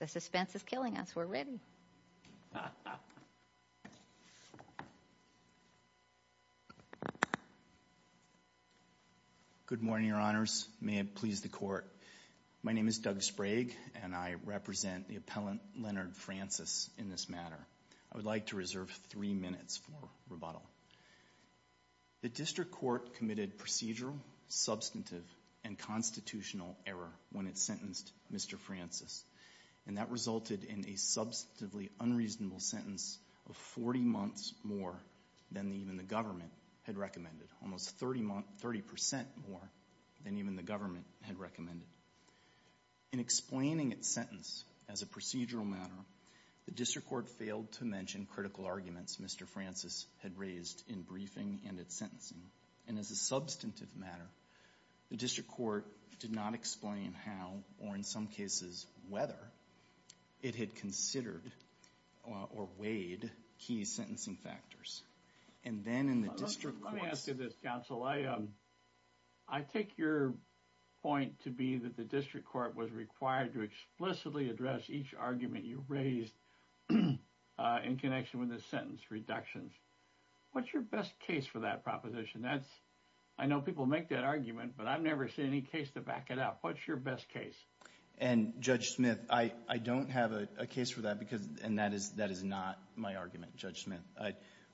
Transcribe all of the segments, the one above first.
The suspense is killing us. We're ready. Good morning, your honors. May it please the court. My name is Doug Sprague and I represent the appellant Leonard Francis in this matter. I would like to reserve three minutes for rebuttal. The district court committed procedural, substantive, and constitutional error when it sentenced Mr. Francis. And that resulted in a substantively unreasonable sentence of 40 months more than even the government had recommended, almost 30 percent more than even the government had recommended. In explaining its sentence as a procedural matter, the district court failed to mention critical arguments Mr. Francis had raised in briefing and at sentencing. And as a substantive matter, the district court did not explain how, or in some cases whether, it had considered or weighed key sentencing factors. And then in the district court... Let me ask you this, counsel. I take your point to be that the district court was required to explicitly address each argument you raised in connection with the sentence reductions. What's your best case for that proposition? I know people make that argument, but I've never seen any case to back it up. What's your best case? And Judge Smith, I don't have a case for that because, and that is not my argument, Judge Smith.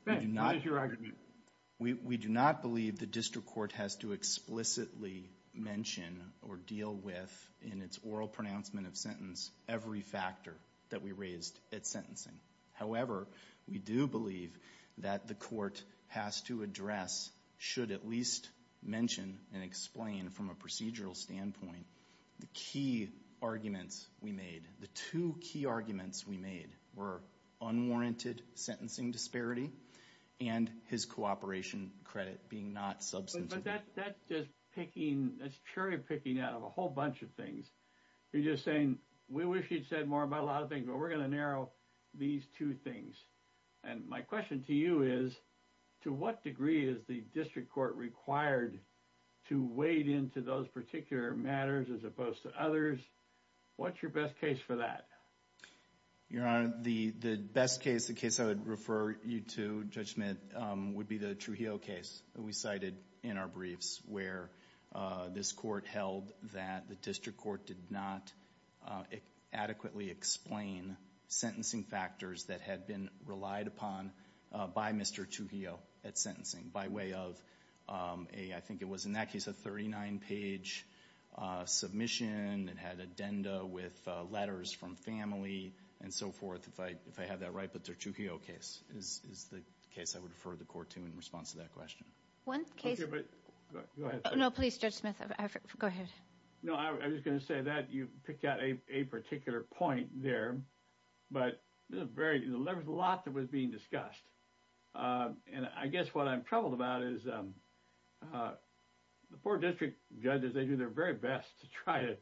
Ben, what is your argument? We do not believe the district court has to explicitly mention or deal with, in its oral pronouncement of sentence, every factor that we raised at sentencing. However, we do believe that the court has to address, should at least mention and explain from a procedural standpoint, the key arguments we made. The two key arguments we made were unwarranted sentencing disparity and his cooperation credit being not substantive. But that's just picking, that's cherry-picking out of a whole bunch of things. You're just saying, we wish you'd said more about a lot of things. We're going to narrow these two things. And my question to you is, to what degree is the district court required to wade into those particular matters as opposed to others? What's your best case for that? Your Honor, the best case, the case I would refer you to, Judge Smith, would be the Trujillo case that we cited in our briefs where this court held that the district court did not adequately explain sentencing factors that had been relied upon by Mr. Trujillo at sentencing by way of a, I think it was in that case, a 39-page submission. It had addenda with letters from family and so forth. If I have that right, the Trujillo case is the case I would refer the court to in response to that question. No, please, Judge Smith, go ahead. No, I was going to say that you picked out a particular point there, but there's a lot that was being discussed. And I guess what I'm troubled about is the four district judges, they do their very best to try to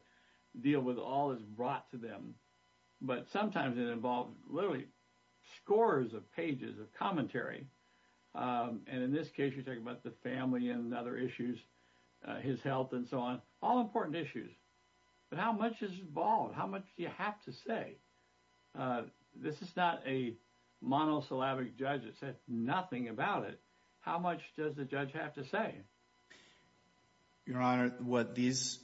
deal with all that's brought to them, but sometimes it involves literally scores of pages of commentary. And in this case, you're talking about the family and other issues, his health and so on, all important issues. But how much is involved? How much do you have to say? This is not a monosyllabic judge that said nothing about it. How much does the judge have to say? Your Honor, what this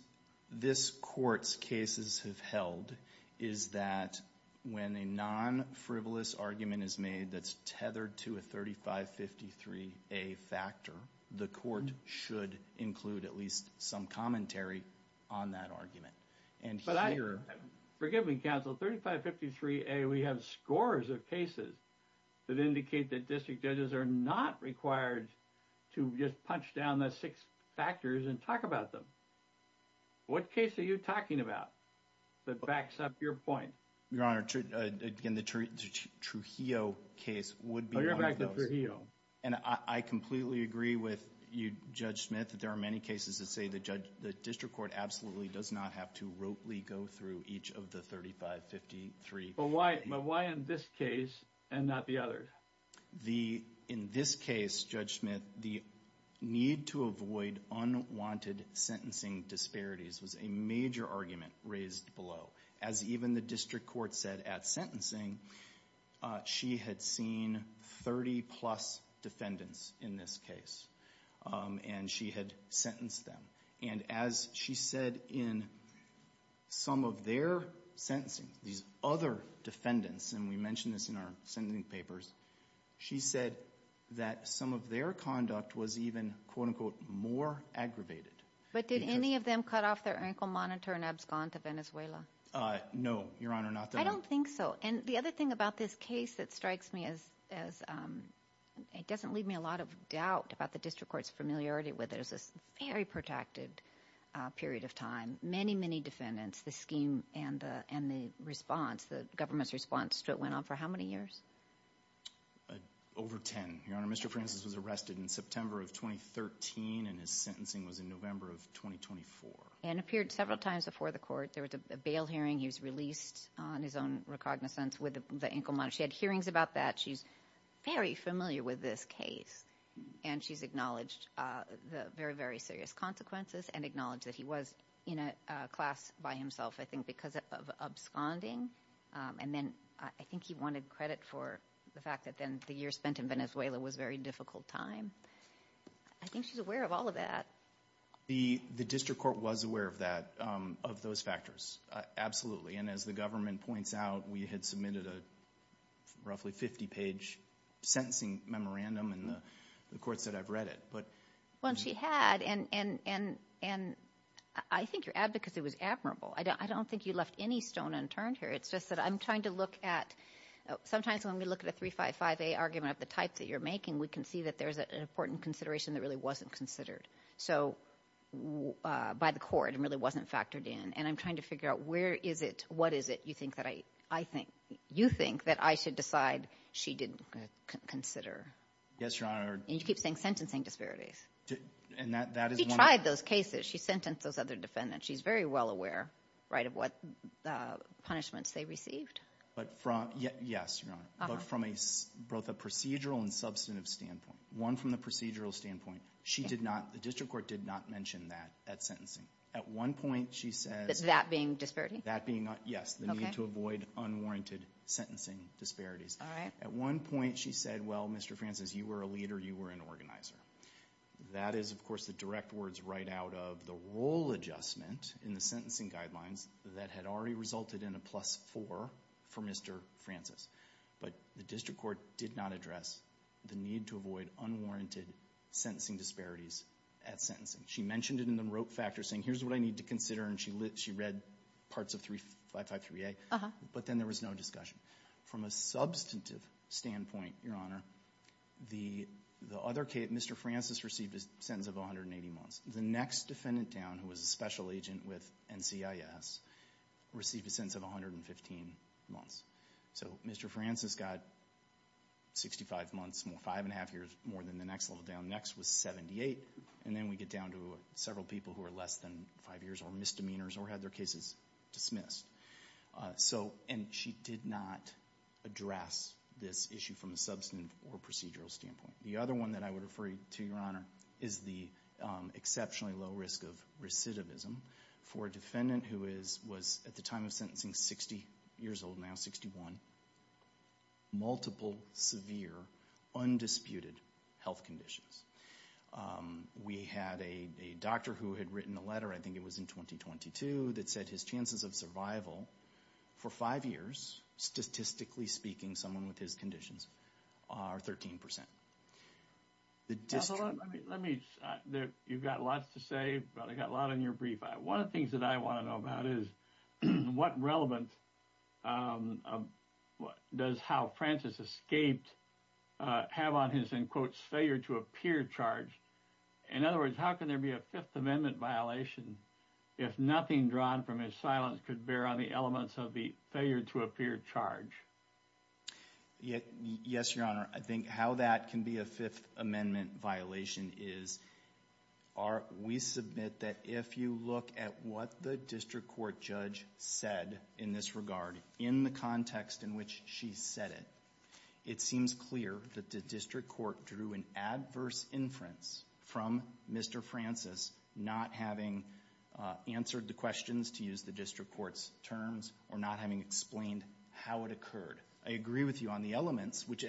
court's cases have held is that when a non-frivolous argument is made that's tethered to a 3553A factor, the court should include at least some commentary on that argument. But forgive me, counsel, 3553A, we have scores of cases that indicate that district judges are not required to just punch down the six factors and talk about them. What case are you talking about that backs up your point? Your Honor, the Trujillo case would be one of those. And I completely agree with you, Judge Smith, that there are many cases that say the district court absolutely does not have to rotely go through each of the 3553. But why in this case and not the other? In this case, Judge Smith, the need to avoid unwanted sentencing disparities was a major argument raised below. As even the district court said at the time of sentencing, she had seen 30-plus defendants in this case, and she had sentenced them. And as she said in some of their sentencing, these other defendants and we mentioned this in our sentencing papers, she said that some of their conduct was even, quote, unquote, more aggravated. But did any of them cut off their ankle monitor and abscond to Venezuela? No, Your Honor, not that I know of. I don't think so. And the other thing about this case that strikes me as, it doesn't leave me a lot of doubt about the district court's familiarity with it is this very protracted period of time. Many, many defendants, the scheme and the response, the government's response to it went on for how many years? Over 10. Your Honor, Mr. Francis was arrested in September of 2013 and his sentencing was in November of 2024. And appeared several times before the court. There was a bail hearing. He was released on his own recognizance with the ankle monitor. She had hearings about that. She's very familiar with this case. And she's acknowledged the very, very serious consequences and acknowledged that he was in a class by himself, I think, because of absconding. And then I think he wanted credit for the fact that then the year spent in Venezuela was very difficult time. I think she's aware of all of that. The district court was aware of that, of those factors. Absolutely. And as the government points out, we had submitted a roughly 50-page sentencing memorandum, and the court said I've read it. But... Well, she had, and I think your advocacy was admirable. I don't think you left any stone unturned here. It's just that I'm trying to look at, sometimes when we look at a 355A argument of the types that you're making, we can see that there's an important consideration that really wasn't considered. So by the court, it really wasn't factored in. And I'm trying to figure out where is it, what is it you think that I, I think, you think that I should decide she didn't consider. Yes, Your Honor. And you keep saying sentencing disparities. And that is one of the... She tried those cases. She sentenced those other defendants. She's very well aware, right, of what punishments they received. But from, yes, Your Honor. Uh-huh. But from a, both a procedural and substantive standpoint. One from the procedural standpoint. She did not, the district court did not mention that at sentencing. At one point, she said... That being disparity? That being, yes, the need to avoid unwarranted sentencing disparities. All right. At one point, she said, well, Mr. Francis, you were a leader, you were an organizer. That is, of course, the direct words right out of the role adjustment in the sentencing guidelines that had already resulted in a plus four for Mr. Francis. But the district court did not address the need to avoid unwarranted sentencing disparities at sentencing. She mentioned it in the rote factor saying, here's what I need to consider, and she lit, she read parts of 3553A. Uh-huh. But then there was no discussion. From a substantive standpoint, Your Honor, the, the other case, Mr. Francis received a sentence of 180 months. The next defendant down, who was a special agent with NCIS, received a sentence of 115 months. So, Mr. Francis got 65 months, five and a half years more than the next level down. Next was 78, and then we get down to several people who are less than five years or misdemeanors or had their cases dismissed. So, and she did not address this issue from a substantive or procedural standpoint. The other one that I would refer you to, Your Honor, is the exceptionally low risk of recidivism for a defendant who is, was, at the time of sentencing, 60 years old now, 61. Multiple, severe, undisputed health conditions. We had a, a doctor who had written a letter, I think it was in 2022, that said his chances of survival for five years, statistically speaking, someone with his conditions, are 13%. The district- Now, hold on, let me, let me, there, you've got lots to say, but I got a lot on your brief. One of the things that I want to know about is, what relevant, what, does how Francis escaped, have on his, in quotes, failure to appear charge? In other words, how can there be a Fifth Amendment violation if nothing drawn from his silence could bear on the elements of the failure to appear charge? Yes, Your Honor, I think how that can be a Fifth Amendment violation is, are, we submit that if you look at what the district court judge said in this regard, in the context in which she said it, it seems clear that the district court drew an adverse inference from Mr. Francis not having answered the questions, to use the district court's terms, or not having explained how it occurred. I agree with you on the elements, which,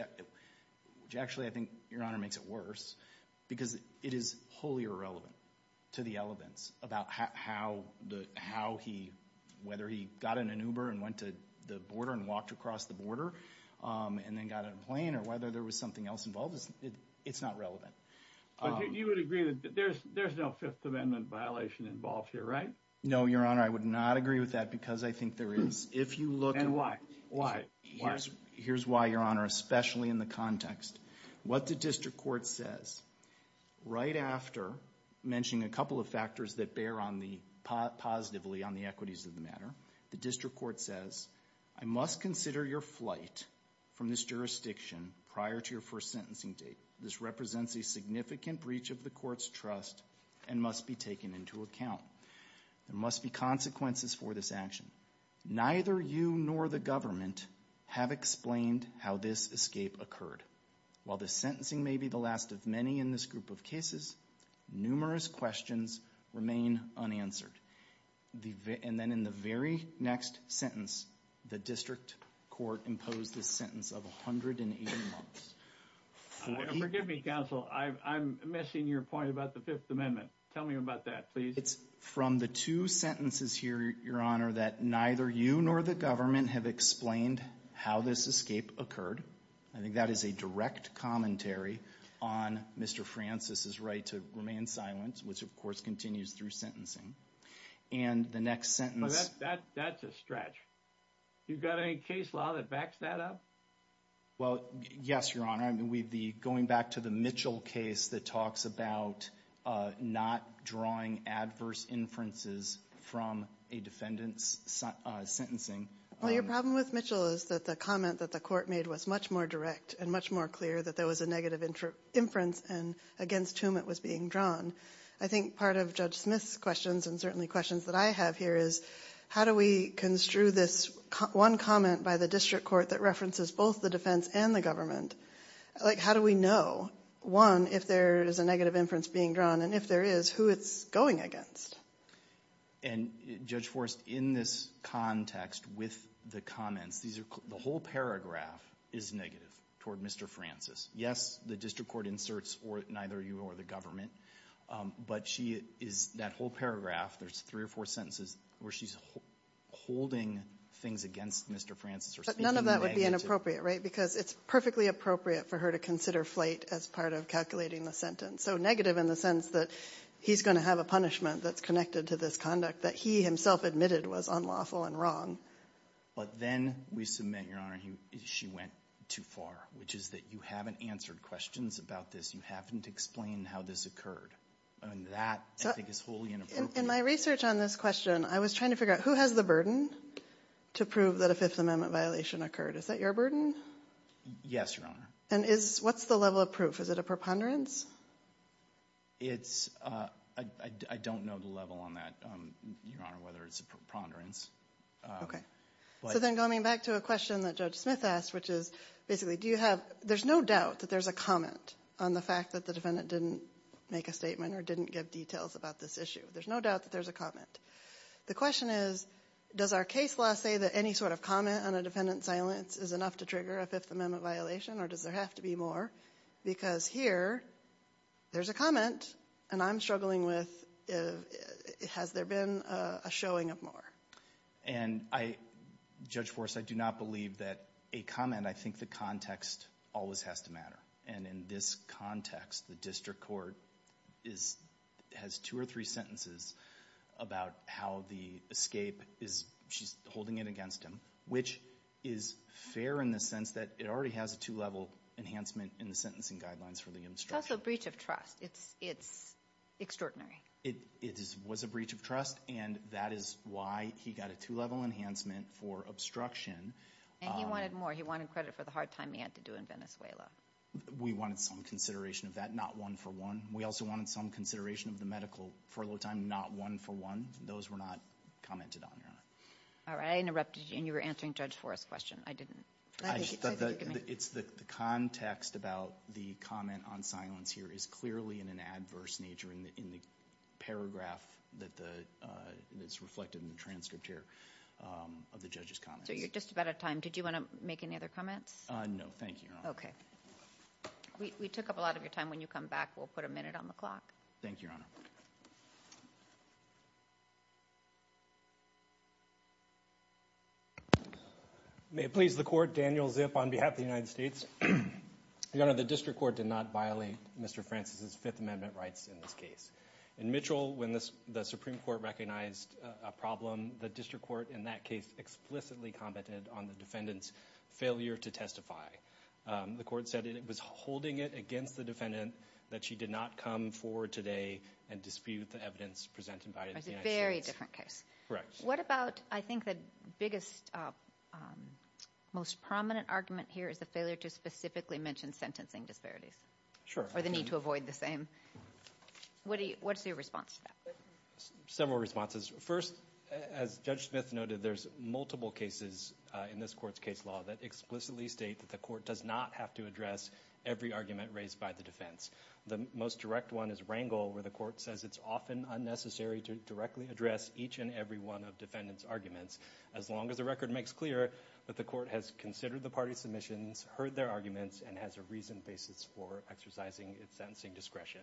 which actually, I think, Your Honor, makes it worse, because it is wholly irrelevant to the elements about how the, how he, whether he got in an Uber and went to the border and walked across the border, and then got on a plane, or whether there was something else involved, it's not relevant. But you would agree that there's, there's no Fifth Amendment violation involved here, right? No, Your Honor, I would not agree with that because I think there is. If you look- And why? Why? Here's, here's why, Your Honor, especially in the context. What the district court says, right after mentioning a couple of factors that bear on the, positively on the equities of the matter, the district court says, I must consider your flight from this jurisdiction prior to your first sentencing date. This represents a significant breach of the court's trust and must be taken into account. There must be consequences for this action. Neither you nor the government have explained how this escape occurred. While the sentencing may be the last of many in this group of cases, numerous questions remain unanswered. The, and then in the very next sentence, the district court imposed this sentence of 180 months. Forgive me, counsel, I'm missing your point about the Fifth Amendment. Tell me about that, please. It's from the two sentences here, Your Honor, that neither you nor the government have explained how this escape occurred. I think that is a direct commentary on Mr. Francis's right to remain silent, which of course continues through sentencing. And the next sentence- That, that, that's a stretch. You've got any case law that backs that up? Well, yes, Your Honor. I mean, we've the, going back to the Mitchell case that talks about not drawing adverse inferences from a defendant's sentencing. Well, your problem with Mitchell is that the comment that the court made was much more direct and much more clear that there was a negative inference against whom it was being drawn. I think part of Judge Smith's questions and certainly questions that I have here is, how do we construe this one comment by the district court that references both the defense and the government? Like, how do we know, one, if there is a negative inference being drawn, and if there is, who it's going against? And, Judge Forrest, in this context with the comments, these are, the whole paragraph is negative toward Mr. Francis. Yes, the district court inserts or neither you nor the government, but she is, that whole paragraph, there's three or four sentences where she's holding things against Mr. Francis or speaking negatively. It would be inappropriate, right, because it's perfectly appropriate for her to consider flight as part of calculating the sentence. So negative in the sense that he's going to have a punishment that's connected to this conduct that he himself admitted was unlawful and wrong. But then we submit, Your Honor, she went too far, which is that you haven't answered questions about this. You haven't explained how this occurred. And that, I think, is wholly inappropriate. In my research on this question, I was trying to figure out who has the burden to prove that a Fifth Amendment violation occurred. Is that your burden? Yes, Your Honor. And is, what's the level of proof? Is it a preponderance? It's, I don't know the level on that, Your Honor, whether it's a preponderance. Okay. So then coming back to a question that Judge Smith asked, which is basically, do you have, there's no doubt that there's a comment on the fact that the defendant didn't make a statement or didn't give details about this issue. There's no doubt that there's a comment. The question is, does our case law say that any sort of comment on a defendant's silence is enough to trigger a Fifth Amendment violation, or does there have to be more? Because here, there's a comment, and I'm struggling with, has there been a showing of more? And I, Judge Forrest, I do not believe that a comment, I think the context always has to matter. And in this context, the district court is, has two or three sentences about how the escape is, she's holding it against him, which is fair in the sense that it already has a two-level enhancement in the sentencing guidelines for the obstruction. It's also a breach of trust. It's, it's extraordinary. It, it is, was a breach of trust, and that is why he got a two-level enhancement for obstruction. And he wanted more. He wanted credit for the hard time he had to do in Venezuela. We wanted some consideration of that, not one for one. We also wanted some consideration of the medical furlough time, not one for one. Those were not commented on, Your Honor. All right. I interrupted you, and you were answering Judge Forrest's question. I didn't. I, the, it's the, the context about the comment on silence here is clearly in an adverse nature in the, in the paragraph that the, that's reflected in the transcript here of the judge's comments. So you're just about out of time. Did you want to make any other comments? No. Thank you, Your Honor. Okay. We, we took up a lot of your time. When you come back, we'll put a minute on the clock. Thank you, Your Honor. May it please the Court. Daniel Zip on behalf of the United States. Your Honor, the District Court did not violate Mr. Francis's Fifth Amendment rights in this case. In Mitchell, when the Supreme Court recognized a problem, the District Court in that case explicitly commented on the defendant's failure to testify. The court said it was holding it against the defendant that she did not come forward today and dispute the evidence presented by the United States. That's a very different case. Correct. What about, I think, the biggest, most prominent argument here is the failure to specifically mention sentencing disparities. Sure. Or the need to avoid the same. What do you, what's your response to that? Several responses. First, as Judge Smith noted, there's multiple cases in this Court's case law that explicitly state that the Court does not have to address every argument raised by the defense. The most direct one is Rangel, where the Court says it's often unnecessary to directly address each and every one of defendants' arguments, as long as the record makes clear that the Court has considered the parties' submissions, heard their arguments, and has a reasoned basis for exercising its sentencing discretion.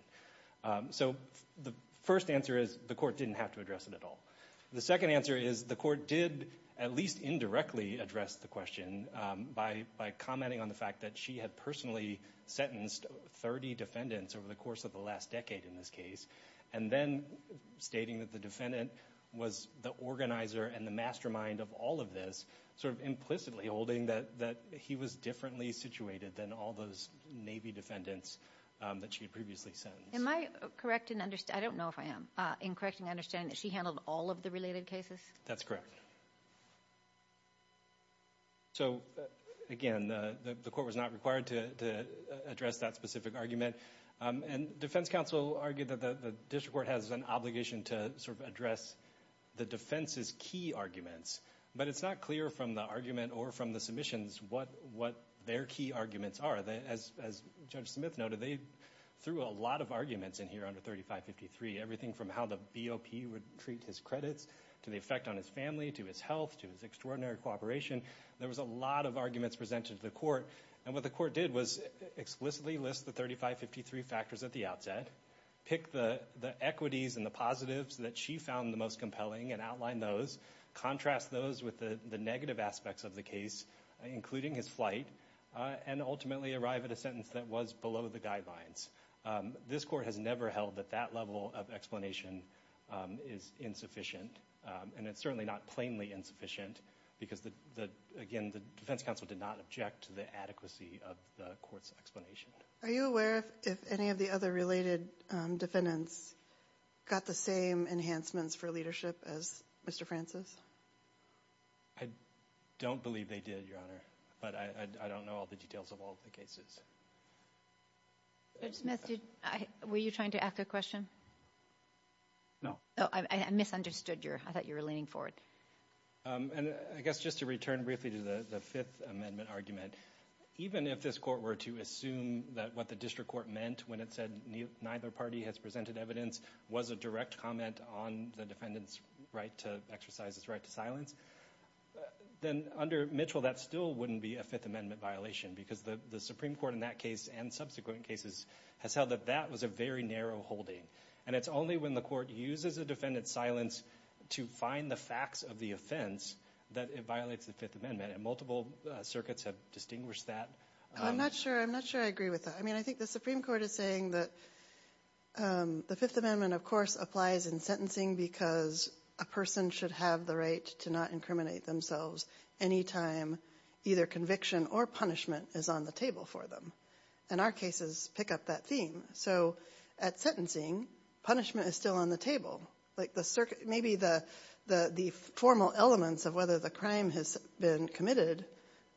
So, the first answer is the Court didn't have to address it at all. The second answer is the Court did at least indirectly address the question by commenting on the fact that she had personally sentenced 30 defendants over the course of the last decade in this case, and then stating that the defendant was the organizer and the mastermind of all of this, sort of implicitly holding that he was differently situated than all those Navy defendants that she had previously sentenced. Am I correct in understanding, I don't know if I am, in correcting my understanding that she handled all of the related cases? That's correct. So, again, the Court was not required to address that specific argument, and defense counsel argued that the district court has an obligation to sort of address the defense's key arguments, but it's not clear from the argument or from the submissions what their key arguments are. As Judge Smith noted, they threw a lot of arguments in here under 3553, everything from how the BOP would treat his credits, to the effect on his family, to his health, to his extraordinary cooperation. There was a lot of arguments presented to the Court, and what the Court did was explicitly list the 3553 factors at the outset, pick the equities and the positives that she found the most compelling and outline those, contrast those with the negative aspects of the case, including his flight, and ultimately arrive at a sentence that was below the guidelines. This Court has never held that that level of explanation is insufficient, and it's certainly not plainly insufficient, because, again, the defense counsel did not object to the adequacy of the Court's explanation. Are you aware if any of the other related defendants got the same enhancements for leadership as Mr. Francis? I don't believe they did, Your Honor, but I don't know all the details of all the cases. Judge Smith, were you trying to ask a question? No. Oh, I misunderstood. I thought you were leaning forward. I guess just to return briefly to the Fifth Amendment argument, even if this Court were to assume that what the district court meant when it said neither party has presented evidence was a direct comment on the defendant's right to exercise his right to silence, then under Mitchell, that still wouldn't be a Fifth Amendment violation, because the Supreme Court in that case and subsequent cases has held that that was a very narrow holding, and it's only when the Court uses a defendant's silence to find the facts of the offense that it violates the Fifth Amendment, and multiple circuits have distinguished that. I'm not sure I agree with that. I mean, I think the Supreme Court is saying that the Fifth Amendment, of course, applies in sentencing because a person should have the right to not incriminate themselves any time either conviction or punishment is on the table for them, and our cases pick up that theme. So at sentencing, punishment is still on the table. Like, maybe the formal elements of whether the crime has been committed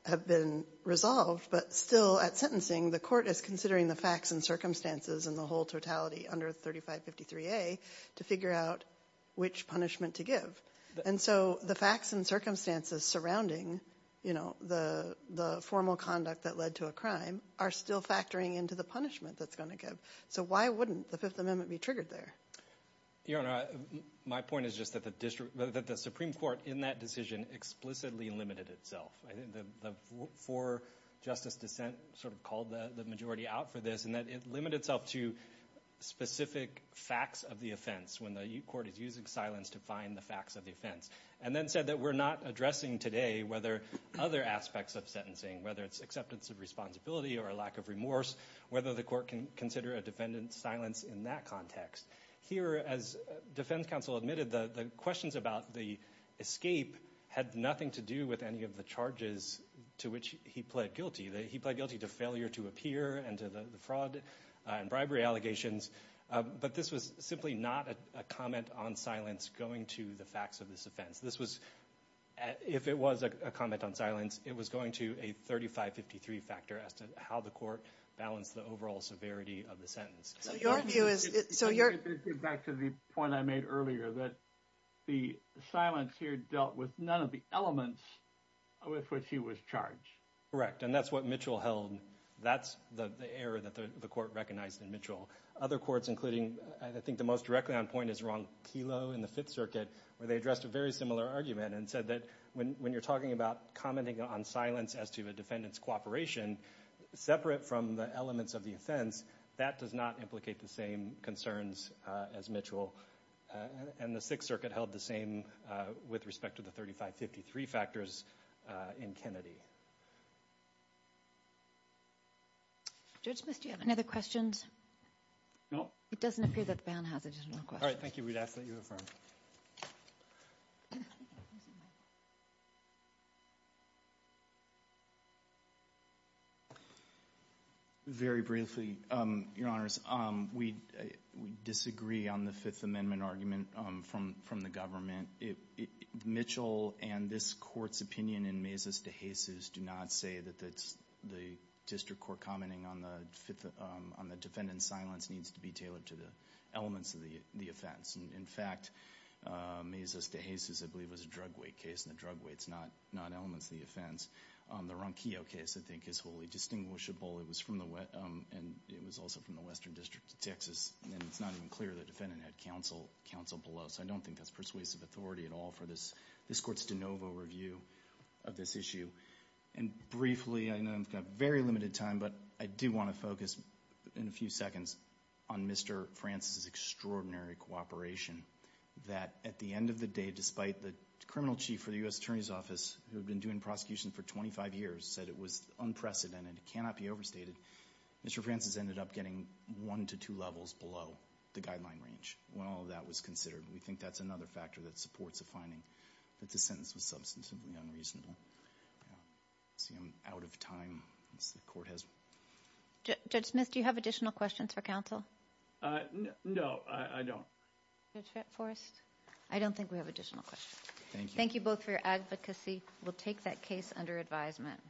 have been resolved, but still at sentencing, the Court is considering the facts and circumstances and the whole totality under 3553A to figure out which punishment to give. And so the facts and circumstances surrounding the formal conduct that led to a crime are still factoring into the punishment that's going to give. So why wouldn't the Fifth Amendment be triggered there? Your Honor, my point is just that the Supreme Court in that decision explicitly limited itself. I think the four justice dissent sort of called the majority out for this, and that it limited itself to specific facts of the offense when the Court is using silence to find the facts of the offense, and then said that we're not addressing today whether other aspects of sentencing, whether it's acceptance of responsibility or a lack of remorse, whether the Court can consider a defendant's silence in that context. Here, as defense counsel admitted, the questions about the escape had nothing to do with any of the charges to which he pled guilty. He pled guilty to failure to appear and to the fraud and bribery allegations, but this was simply not a comment on silence going to the facts of this offense. This was, if it was a comment on silence, it was going to a 3553 factor as to how the Court balanced the overall severity of the sentence. So your view is, so your... To get back to the point I made earlier, that the silence here dealt with none of the elements with which he was charged. Correct, and that's what Mitchell held. That's the error that the Court recognized in Mitchell. Other courts, including, I think the most directly on point is Ron Kelo in the Fifth Circuit, where they addressed a very similar argument and said that when you're talking about commenting on silence as to a defendant's cooperation, separate from the elements of the offense, that does not implicate the same concerns as Mitchell. And the Sixth Circuit held the same with respect to the 3553 factors in Kennedy. Judge Smith, do you have any other questions? No. It doesn't appear that the ban has it. All right, thank you. We'd ask that you affirm. Very briefly, Your Honors, we disagree on the Fifth Amendment argument from the government. Mitchell and this Court's opinion in Mises de Jesus do not say that the district court commenting on the defendant's silence needs to be tailored to the elements of the offense. In fact, Mises de Jesus, I believe, was a drug weight case, and the drug weight is not elements of the offense. The Ron Kelo case, I think, is wholly distinguishable. It was also from the Western District of Texas, and it's not even clear the defendant had counsel below. So I don't think that's persuasive authority at all for this Court's de novo review of this issue. And briefly, I know I've got very limited time, but I do want to focus in a few seconds on Mr. Francis's extraordinary cooperation, that at the end of the day, despite the criminal chief for the U.S. Attorney's Office, who had been doing prosecution for 25 years, said it was unprecedented, it cannot be overstated, Mr. Francis ended up getting one to two levels below the guideline range when all of that was considered. We think that's another factor that supports the finding that the sentence was substantively unreasonable. I see I'm out of time. Judge Smith, do you have additional questions for counsel? No, I don't. Judge Forrest? I don't think we have additional questions. Thank you. Thank you both for your advocacy. We'll take that case under advisement.